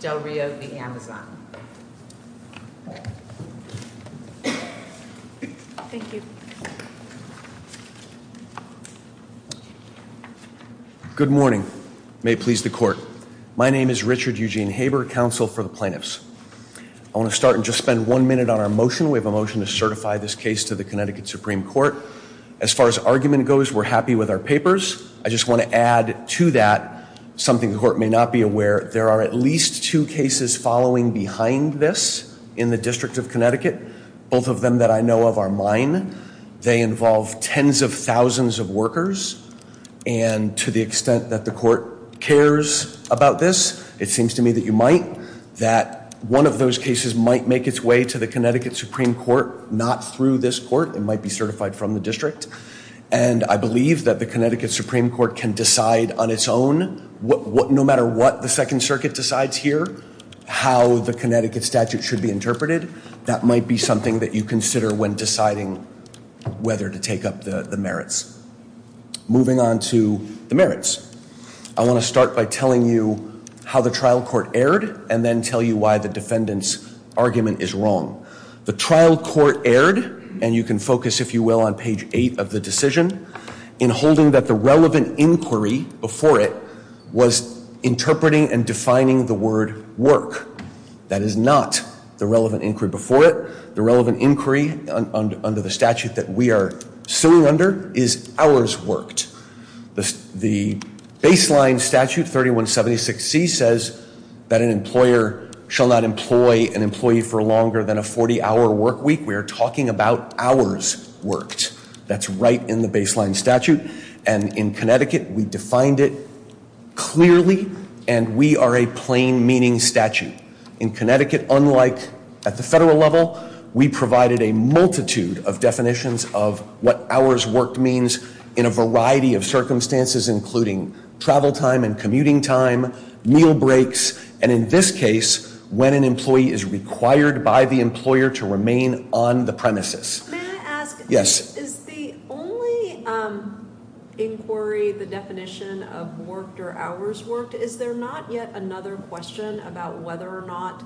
Del Rio v. Amazon. Thank you. Good morning. May it please the Court. My name is Richard Eugene Haber, Counsel for the Plaintiffs. I want to start and just spend one minute on our motion. We have a motion to certify this case to the Connecticut Supreme Court. As far as argument goes, we're happy with our papers. I just want to add to that something the Court may not be aware. There are at least two cases following behind this in the District of Connecticut. Both of them that I know of are mine. They involve tens of thousands of workers. And to the extent that the Court cares about this, it seems to me that you might. That one of those cases might make its way to the Connecticut Supreme Court, not through this Court. It might be certified from the District. And I believe that the Connecticut Supreme Court can decide on its own, no matter what the Second Circuit decides here, how the Connecticut statute should be interpreted. That might be something that you consider when deciding whether to take up the merits. Moving on to the merits, I want to start by telling you how the trial court erred and then tell you why the defendant's argument is wrong. The trial court erred, and you can focus, if you will, on page 8 of the decision, in holding that the relevant inquiry before it was interpreting and defining the word work. That is not the relevant inquiry before it. The relevant inquiry under the statute that we are suing under is hours worked. The baseline statute, 3176C, says that an employer shall not employ an employee for longer than a 40-hour work week. We are talking about hours worked. That's right in the baseline statute. And in Connecticut, we defined it clearly, and we are a plain-meaning statute. In Connecticut, unlike at the federal level, we provided a multitude of definitions of what hours worked means in a variety of circumstances, including travel time and commuting time, meal breaks, and in this case, when an employee is required by the employer to remain on the premises. May I ask? Yes. Is the only inquiry, the definition of worked or hours worked, is there not yet another question about whether or not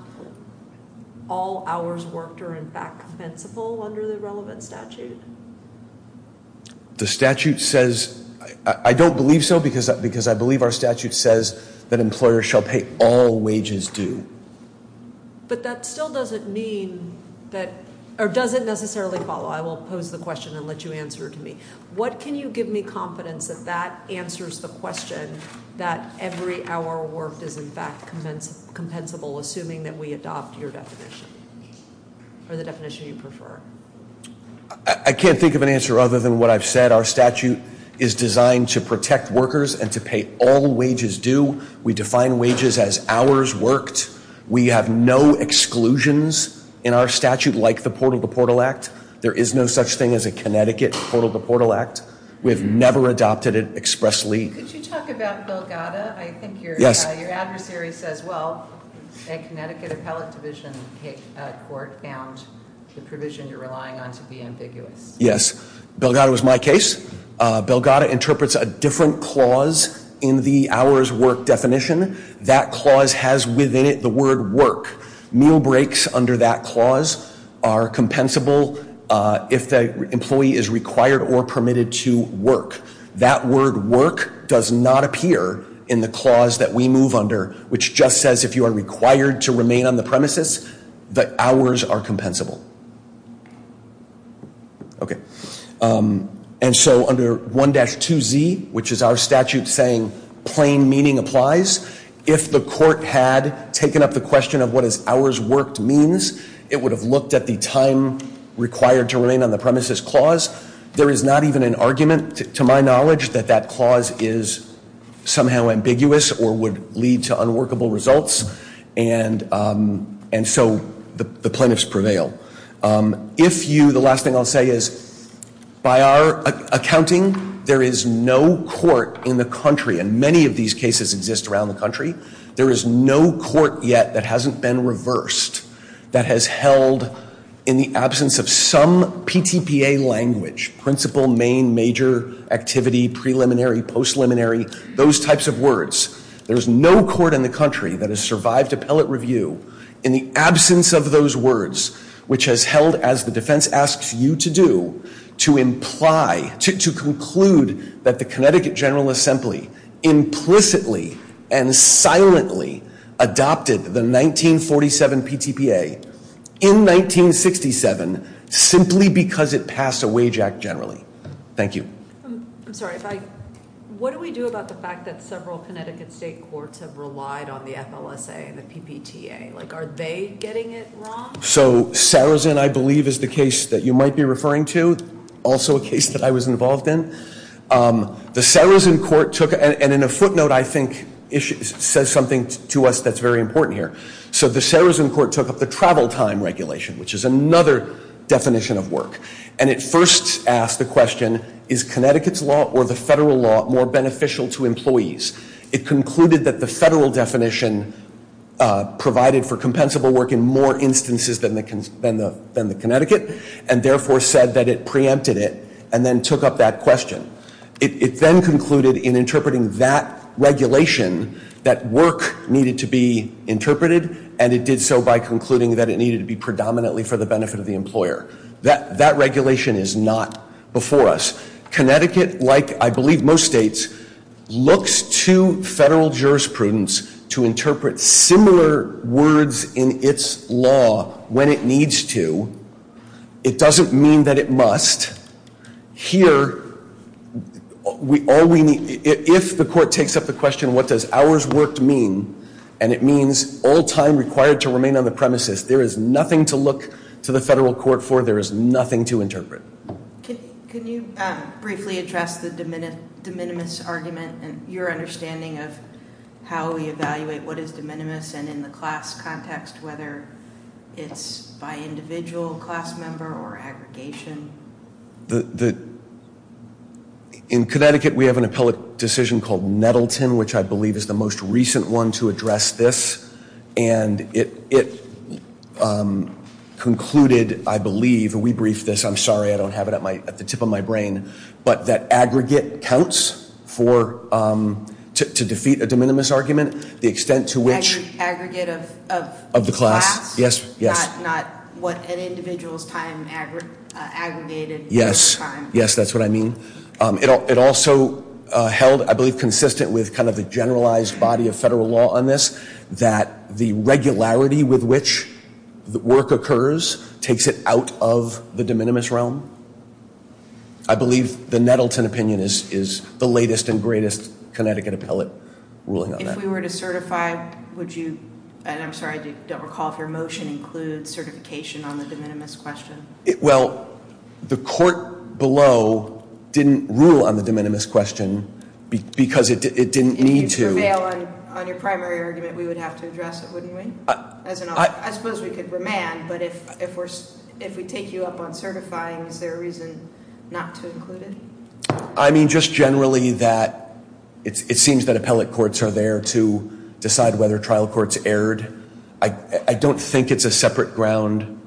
all hours worked are in fact compensable under the relevant statute? The statute says—I don't believe so because I believe our statute says that employers shall pay all wages due. But that still doesn't mean that—or doesn't necessarily follow. I will pose the question and let you answer it to me. What can you give me confidence that that answers the question that every hour worked is in fact compensable, assuming that we adopt your definition or the definition you prefer? I can't think of an answer other than what I've said. Our statute is designed to protect workers and to pay all wages due. We define wages as hours worked. We have no exclusions in our statute like the Portal to Portal Act. There is no such thing as a Connecticut Portal to Portal Act. We have never adopted it expressly. Could you talk about Belgada? I think your adversary says, well, a Connecticut appellate division court found the provision you're relying on to be ambiguous. Yes. Belgada was my case. Belgada interprets a different clause in the hours worked definition. That clause has within it the word work. Meal breaks under that clause are compensable if the employee is required or permitted to work. That word work does not appear in the clause that we move under, which just says if you are required to remain on the premises, the hours are compensable. Okay. And so under 1-2Z, which is our statute saying plain meaning applies, if the court had taken up the question of what is hours worked means, it would have looked at the time required to remain on the premises clause. There is not even an argument to my knowledge that that clause is somehow ambiguous or would lead to unworkable results. And so the plaintiffs prevail. If you, the last thing I'll say is by our accounting, there is no court in the country, and many of these cases exist around the country, there is no court yet that hasn't been reversed that has held in the absence of some PTPA language, principle, main, major, activity, preliminary, post-liminary, those types of words. There is no court in the country that has survived appellate review in the absence of those words, which has held as the defense asks you to do to imply, to conclude that the Connecticut General Assembly implicitly and silently adopted the 1947 PTPA in 1967 simply because it passed a wage act generally. Thank you. I'm sorry. What do we do about the fact that several Connecticut state courts have relied on the FLSA and the PPTA? Like, are they getting it wrong? So Sarazin, I believe, is the case that you might be referring to, also a case that I was involved in. The Sarazin court took, and in a footnote I think says something to us that's very important here. So the Sarazin court took up the travel time regulation, which is another definition of work. And it first asked the question, is Connecticut's law or the federal law more beneficial to employees? It concluded that the federal definition provided for compensable work in more instances than the Connecticut and therefore said that it preempted it and then took up that question. It then concluded in interpreting that regulation that work needed to be interpreted, and it did so by concluding that it needed to be predominantly for the benefit of the employer. That regulation is not before us. Connecticut, like I believe most states, looks to federal jurisprudence to interpret similar words in its law when it needs to. It doesn't mean that it must. Here, if the court takes up the question, what does hours worked mean, and it means all time required to remain on the premises, there is nothing to look to the federal court for, there is nothing to interpret. Can you briefly address the de minimis argument and your understanding of how we evaluate what is de minimis and in the class context whether it's by individual class member or aggregation? In Connecticut, we have an appellate decision called Nettleton, which I believe is the most recent one to address this, and it concluded, I believe, and we briefed this, I'm sorry, I don't have it at the tip of my brain, but that aggregate counts to defeat a de minimis argument. Aggregate of class? Yes. Not what an individual's time aggregated. Yes, that's what I mean. It also held, I believe, consistent with kind of the generalized body of federal law on this, that the regularity with which the work occurs takes it out of the de minimis realm. I believe the Nettleton opinion is the latest and greatest Connecticut appellate ruling on that. If we were to certify, would you, and I'm sorry, I don't recall if your motion includes certification on the de minimis question. Well, the court below didn't rule on the de minimis question because it didn't need to. If you prevail on your primary argument, we would have to address it, wouldn't we? I suppose we could remand, but if we take you up on certifying, is there a reason not to include it? I mean just generally that it seems that appellate courts are there to decide whether trial courts erred. I don't think it's a separate ground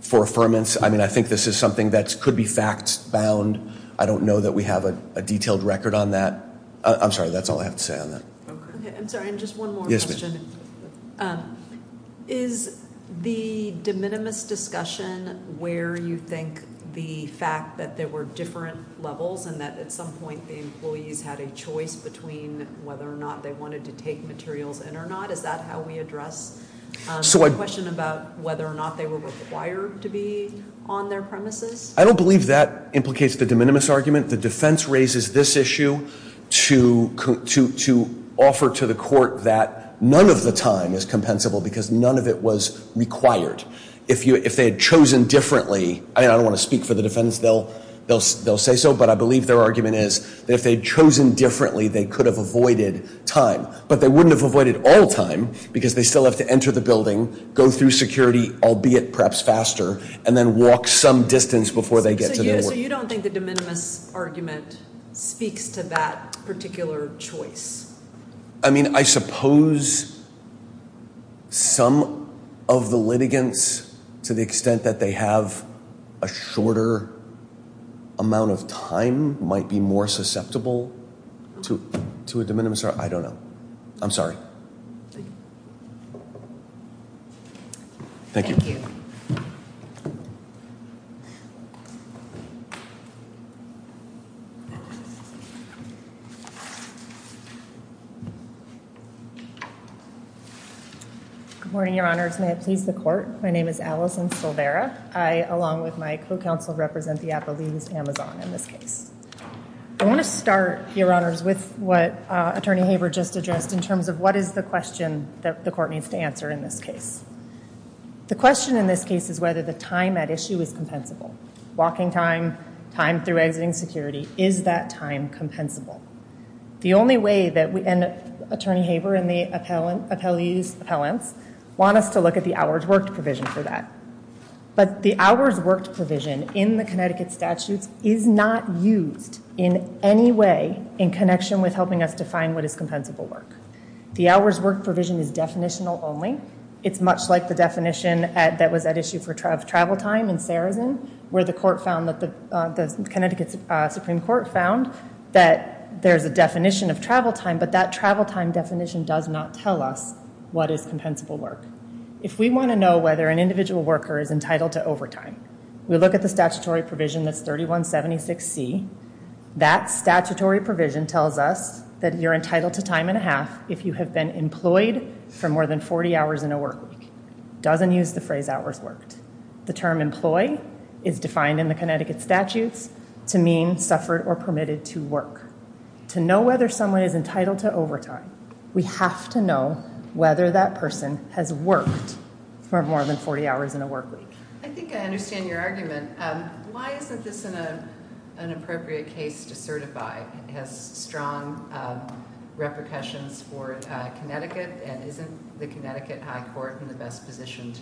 for affirmance. I mean I think this is something that could be facts bound. I don't know that we have a detailed record on that. I'm sorry, that's all I have to say on that. I'm sorry, just one more question. Is the de minimis discussion where you think the fact that there were different levels and that at some point the employees had a choice between whether or not they wanted to take materials in or not, is that how we address the question about whether or not they were required to be on their premises? I don't believe that implicates the de minimis argument. The defense raises this issue to offer to the court that none of the time is compensable because none of it was required. If they had chosen differently, and I don't want to speak for the defense, they'll say so, but I believe their argument is that if they had chosen differently, they could have avoided time. But they wouldn't have avoided all time because they still have to enter the building, go through security, albeit perhaps faster, and then walk some distance before they get to their work. So you don't think the de minimis argument speaks to that particular choice? I mean, I suppose some of the litigants, to the extent that they have a shorter amount of time, might be more susceptible to a de minimis argument. I don't know. I'm sorry. Thank you. Good morning, Your Honors. May it please the court. My name is Allison Silvera. I, along with my co-counsel, represent the Appalachians Amazon in this case. I want to start, Your Honors, with what Attorney Haver just addressed in terms of what is the question that the court needs to answer in this case. The question in this case is whether the time at issue is compensable. Walking time, time through exiting security, is that time compensable? The only way that we, and Attorney Haver and the appellees, appellants, want us to look at the hours worked provision for that. But the hours worked provision in the Connecticut statutes is not used in any way in connection with helping us define what is compensable work. The hours worked provision is definitional only. It's much like the definition that was at issue for travel time in Sarazen, where the Connecticut Supreme Court found that there's a definition of travel time, but that travel time definition does not tell us what is compensable work. If we want to know whether an individual worker is entitled to overtime, we look at the statutory provision that's 3176C. That statutory provision tells us that you're entitled to time and a half if you have been employed for more than 40 hours in a work week. It doesn't use the phrase hours worked. The term employee is defined in the Connecticut statutes to mean suffered or permitted to work. To know whether someone is entitled to overtime, we have to know whether that person has worked for more than 40 hours in a work week. I think I understand your argument. Why isn't this an appropriate case to certify? It has strong repercussions for Connecticut. And isn't the Connecticut High Court in the best position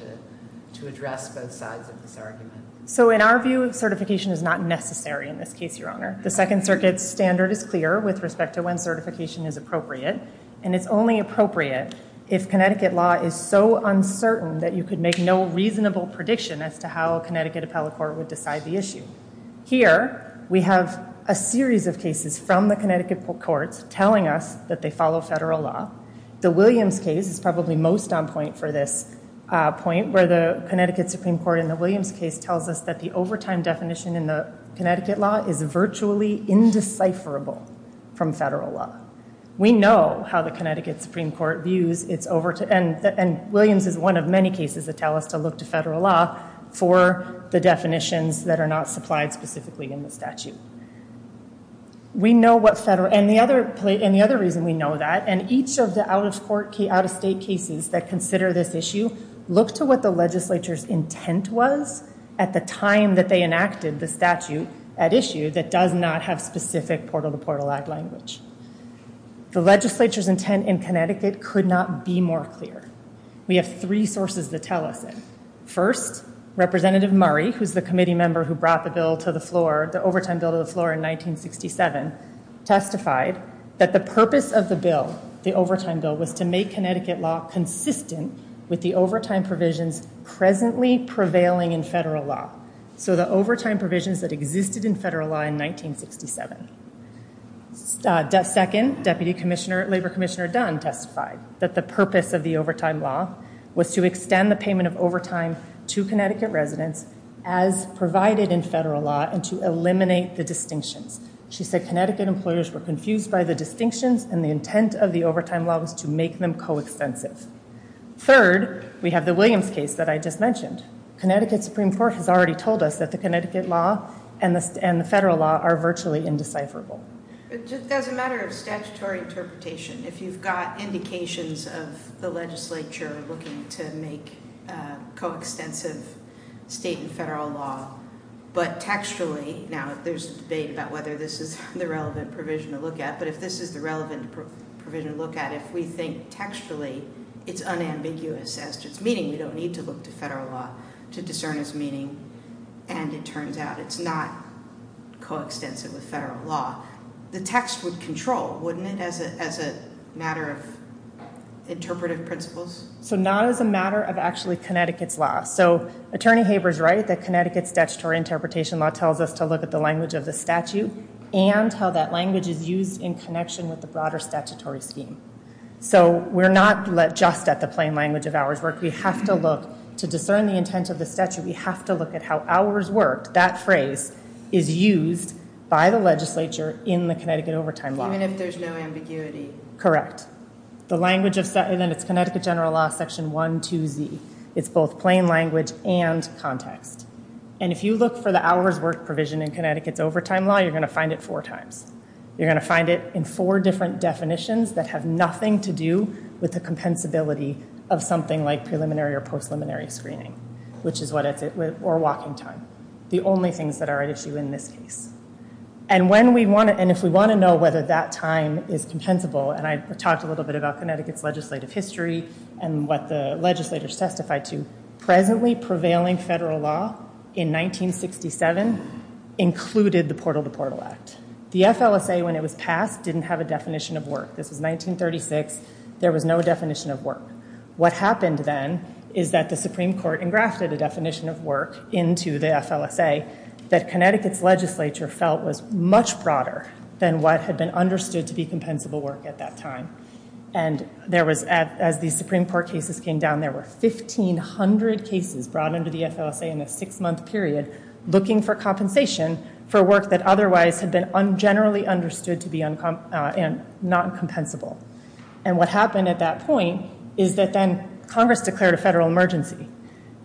to address both sides of this argument? So in our view, certification is not necessary in this case, Your Honor. The Second Circuit's standard is clear with respect to when certification is appropriate. And it's only appropriate if Connecticut law is so uncertain that you could make no reasonable prediction as to how a Connecticut appellate court would decide the issue. Here, we have a series of cases from the Connecticut courts telling us that they follow federal law. The Williams case is probably most on point for this point, where the Connecticut Supreme Court in the Williams case tells us that the overtime definition in the Connecticut law is virtually indecipherable from federal law. We know how the Connecticut Supreme Court views its overtime. And Williams is one of many cases that tell us to look to federal law for the definitions that are not supplied specifically in the statute. And the other reason we know that, and each of the out-of-state cases that consider this issue look to what the legislature's intent was at the time that they enacted the statute at issue that does not have specific portal-to-portal act language. The legislature's intent in Connecticut could not be more clear. We have three sources that tell us that. First, Representative Murray, who's the committee member who brought the bill to the floor, the overtime bill to the floor in 1967, testified that the purpose of the bill, the overtime bill, was to make Connecticut law consistent with the overtime provisions presently prevailing in federal law. So the overtime provisions that existed in federal law in 1967. Second, Deputy Commissioner, Labor Commissioner Dunn testified that the purpose of the overtime law was to extend the payment of overtime to Connecticut residents as provided in federal law and to eliminate the distinctions. She said Connecticut employers were confused by the distinctions and the intent of the overtime law was to make them co-extensive. Third, we have the Williams case that I just mentioned. Connecticut Supreme Court has already told us that the Connecticut law and the federal law are virtually indecipherable. It's just a matter of statutory interpretation. If you've got indications of the legislature looking to make co-extensive state and federal law, but textually, now there's debate about whether this is the relevant provision to look at. But if this is the relevant provision to look at, if we think textually, it's unambiguous as to its meaning. We don't need to look to federal law to discern its meaning. And it turns out it's not co-extensive with federal law. The text would control, wouldn't it, as a matter of interpretive principles? So not as a matter of actually Connecticut's law. So Attorney Haber's right that Connecticut's statutory interpretation law tells us to look at the language of the statute and how that language is used in connection with the broader statutory scheme. So we're not just at the plain language of ours. We have to look to discern the intent of the statute. We have to look at how ours worked. That phrase is used by the legislature in the Connecticut overtime law. Even if there's no ambiguity. Correct. The language of Connecticut general law, section 1.2.z. It's both plain language and context. And if you look for the hours worked provision in Connecticut's overtime law, you're going to find it four times. You're going to find it in four different definitions that have nothing to do with the compensability of something like preliminary or post-preliminary screening or walking time. The only things that are at issue in this case. And if we want to know whether that time is compensable, and I talked a little bit about Connecticut's legislative history and what the legislators testified to, presently prevailing federal law in 1967 included the Portal to Portal Act. The FLSA, when it was passed, didn't have a definition of work. This was 1936. There was no definition of work. What happened then is that the Supreme Court engrafted a definition of work into the FLSA that Connecticut's legislature felt was much broader than what had been understood to be compensable work at that time. And as the Supreme Court cases came down, there were 1,500 cases brought into the FLSA in a six-month period looking for compensation for work that otherwise had been generally understood to be non-compensable. And what happened at that point is that then Congress declared a federal emergency.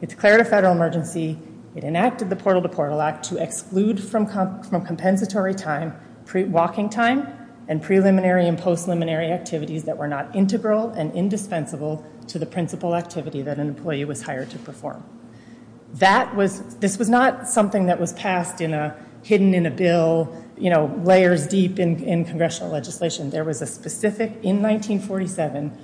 It declared a federal emergency. It enacted the Portal to Portal Act to exclude from compensatory time walking time and preliminary and post-preliminary activities that were not integral and indispensable to the principal activity that an employee was hired to perform. This was not something that was hidden in a bill, layers deep in congressional legislation. There was a specific, in 1947,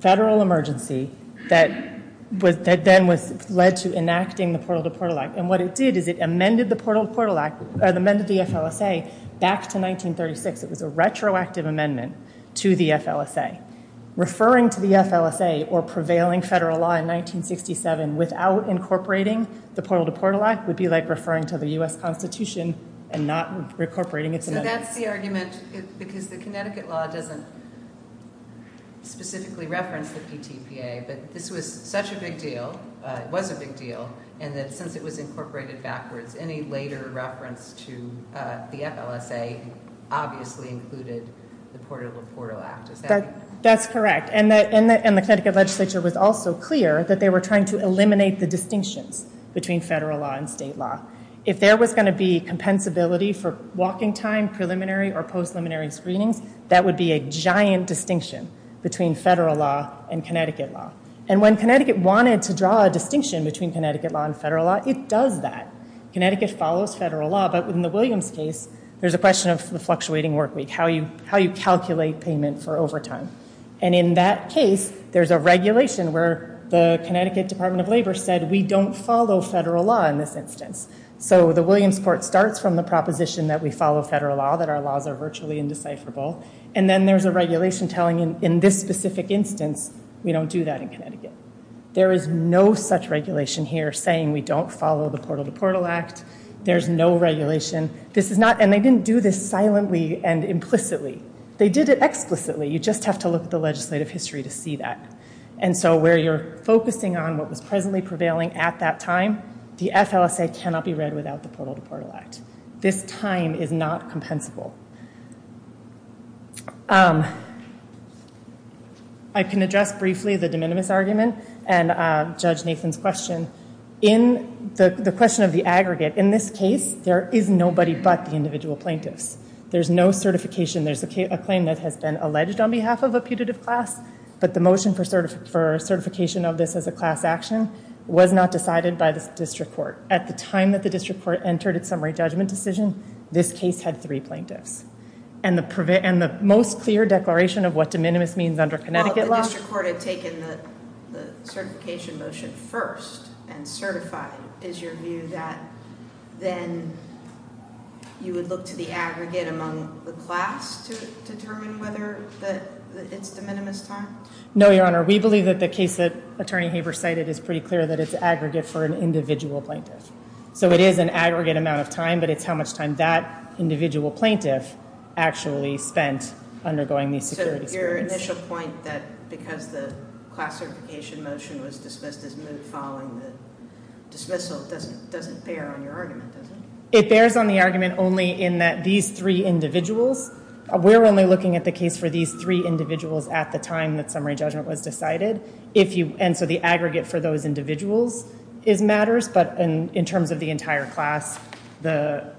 federal emergency that then led to enacting the Portal to Portal Act. And what it did is it amended the FLSA back to 1936. It was a retroactive amendment to the FLSA. Referring to the FLSA or prevailing federal law in 1967 without incorporating the Portal to Portal Act would be like referring to the U.S. Constitution and not incorporating its amendments. So that's the argument because the Connecticut law doesn't specifically reference the PTPA. But this was such a big deal, it was a big deal, and that since it was incorporated backwards, any later reference to the FLSA obviously included the Portal to Portal Act. Is that correct? That's correct. And the Connecticut legislature was also clear that they were trying to eliminate the distinctions between federal law and state law. If there was going to be compensability for walking time, preliminary, or post-preliminary screenings, that would be a giant distinction between federal law and Connecticut law. And when Connecticut wanted to draw a distinction between Connecticut law and federal law, it does that. Connecticut follows federal law, but in the Williams case, there's a question of the fluctuating work week, how you calculate payment for overtime. And in that case, there's a regulation where the Connecticut Department of Labor said, we don't follow federal law in this instance. So the Williams court starts from the proposition that we follow federal law, that our laws are virtually indecipherable. And then there's a regulation telling in this specific instance, we don't do that in Connecticut. There is no such regulation here saying we don't follow the Portal to Portal Act. There's no regulation. This is not, and they didn't do this silently and implicitly. They did it explicitly. You just have to look at the legislative history to see that. And so where you're focusing on what was presently prevailing at that time, the FLSA cannot be read without the Portal to Portal Act. This time is not compensable. I can address briefly the de minimis argument and Judge Nathan's question. In the question of the aggregate, in this case, there is nobody but the individual plaintiffs. There's no certification. There's a claim that has been alleged on behalf of a putative class. But the motion for certification of this as a class action was not decided by the district court. At the time that the district court entered its summary judgment decision, this case had three plaintiffs. And the most clear declaration of what de minimis means under Connecticut law. The district court had taken the certification motion first and certified. Is your view that then you would look to the aggregate among the class to determine whether it's de minimis time? No, Your Honor. We believe that the case that Attorney Haber cited is pretty clear that it's aggregate for an individual plaintiff. So it is an aggregate amount of time, but it's how much time that individual plaintiff actually spent undergoing these security. Your initial point that because the class certification motion was dismissed as moot following the dismissal doesn't bear on your argument, does it? It bears on the argument only in that these three individuals. We're only looking at the case for these three individuals at the time that summary judgment was decided. And so the aggregate for those individuals matters, but in terms of the entire class, the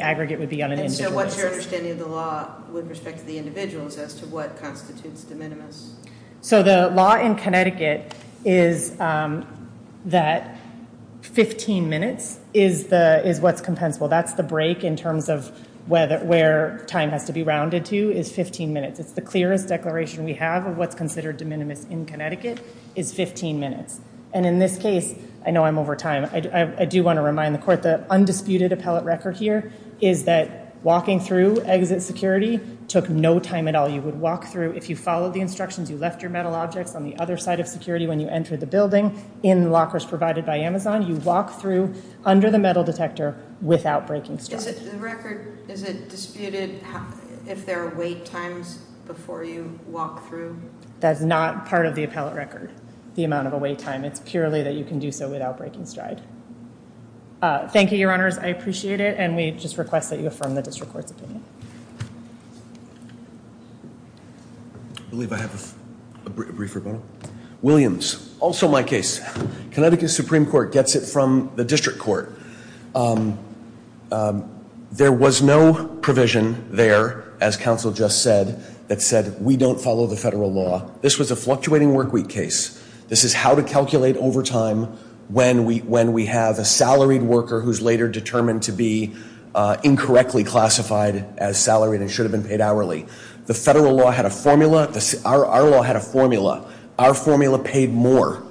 aggregate would be on an individual basis. So what's your understanding of the law with respect to the individuals as to what constitutes de minimis? So the law in Connecticut is that 15 minutes is what's compensable. That's the break in terms of where time has to be rounded to is 15 minutes. It's the clearest declaration we have of what's considered de minimis in Connecticut is 15 minutes. And in this case, I know I'm over time. I do want to remind the court the undisputed appellate record here is that walking through exit security took no time at all. You would walk through. If you followed the instructions, you left your metal objects on the other side of security when you entered the building in lockers provided by Amazon. You walk through under the metal detector without breaking stuff. The record, is it disputed if there are wait times before you walk through? That's not part of the appellate record, the amount of a wait time. It's purely that you can do so without breaking stride. Thank you, Your Honors. I appreciate it, and we just request that you affirm the district court's opinion. I believe I have a brief rebuttal. Williams, also my case. Connecticut Supreme Court gets it from the district court. There was no provision there, as counsel just said, that said we don't follow the federal law. This was a fluctuating work week case. This is how to calculate overtime when we have a salaried worker who's later determined to be incorrectly classified as salaried and should have been paid hourly. The federal law had a formula. Our law had a formula. Our formula paid more.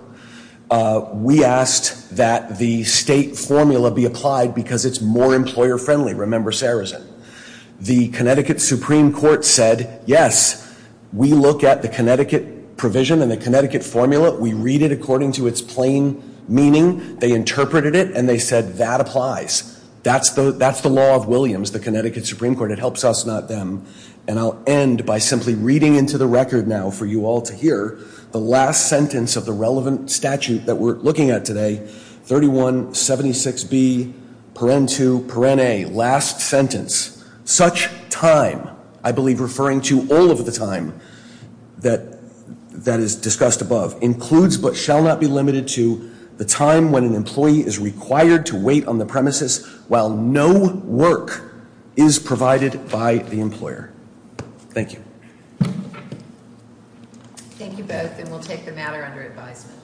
We asked that the state formula be applied because it's more employer friendly. Remember Sarazen. The Connecticut Supreme Court said, yes, we look at the Connecticut provision and the Connecticut formula. We read it according to its plain meaning. They interpreted it, and they said that applies. That's the law of Williams, the Connecticut Supreme Court. It helps us, not them. And I'll end by simply reading into the record now for you all to hear the last sentence of the relevant statute that we're looking at today. 3176B, Paren 2, Paren A, last sentence. Such time, I believe referring to all of the time that is discussed above, includes but shall not be limited to the time when an employee is required to wait on the premises while no work is provided by the employer. Thank you. Thank you both, and we'll take the matter under advisement.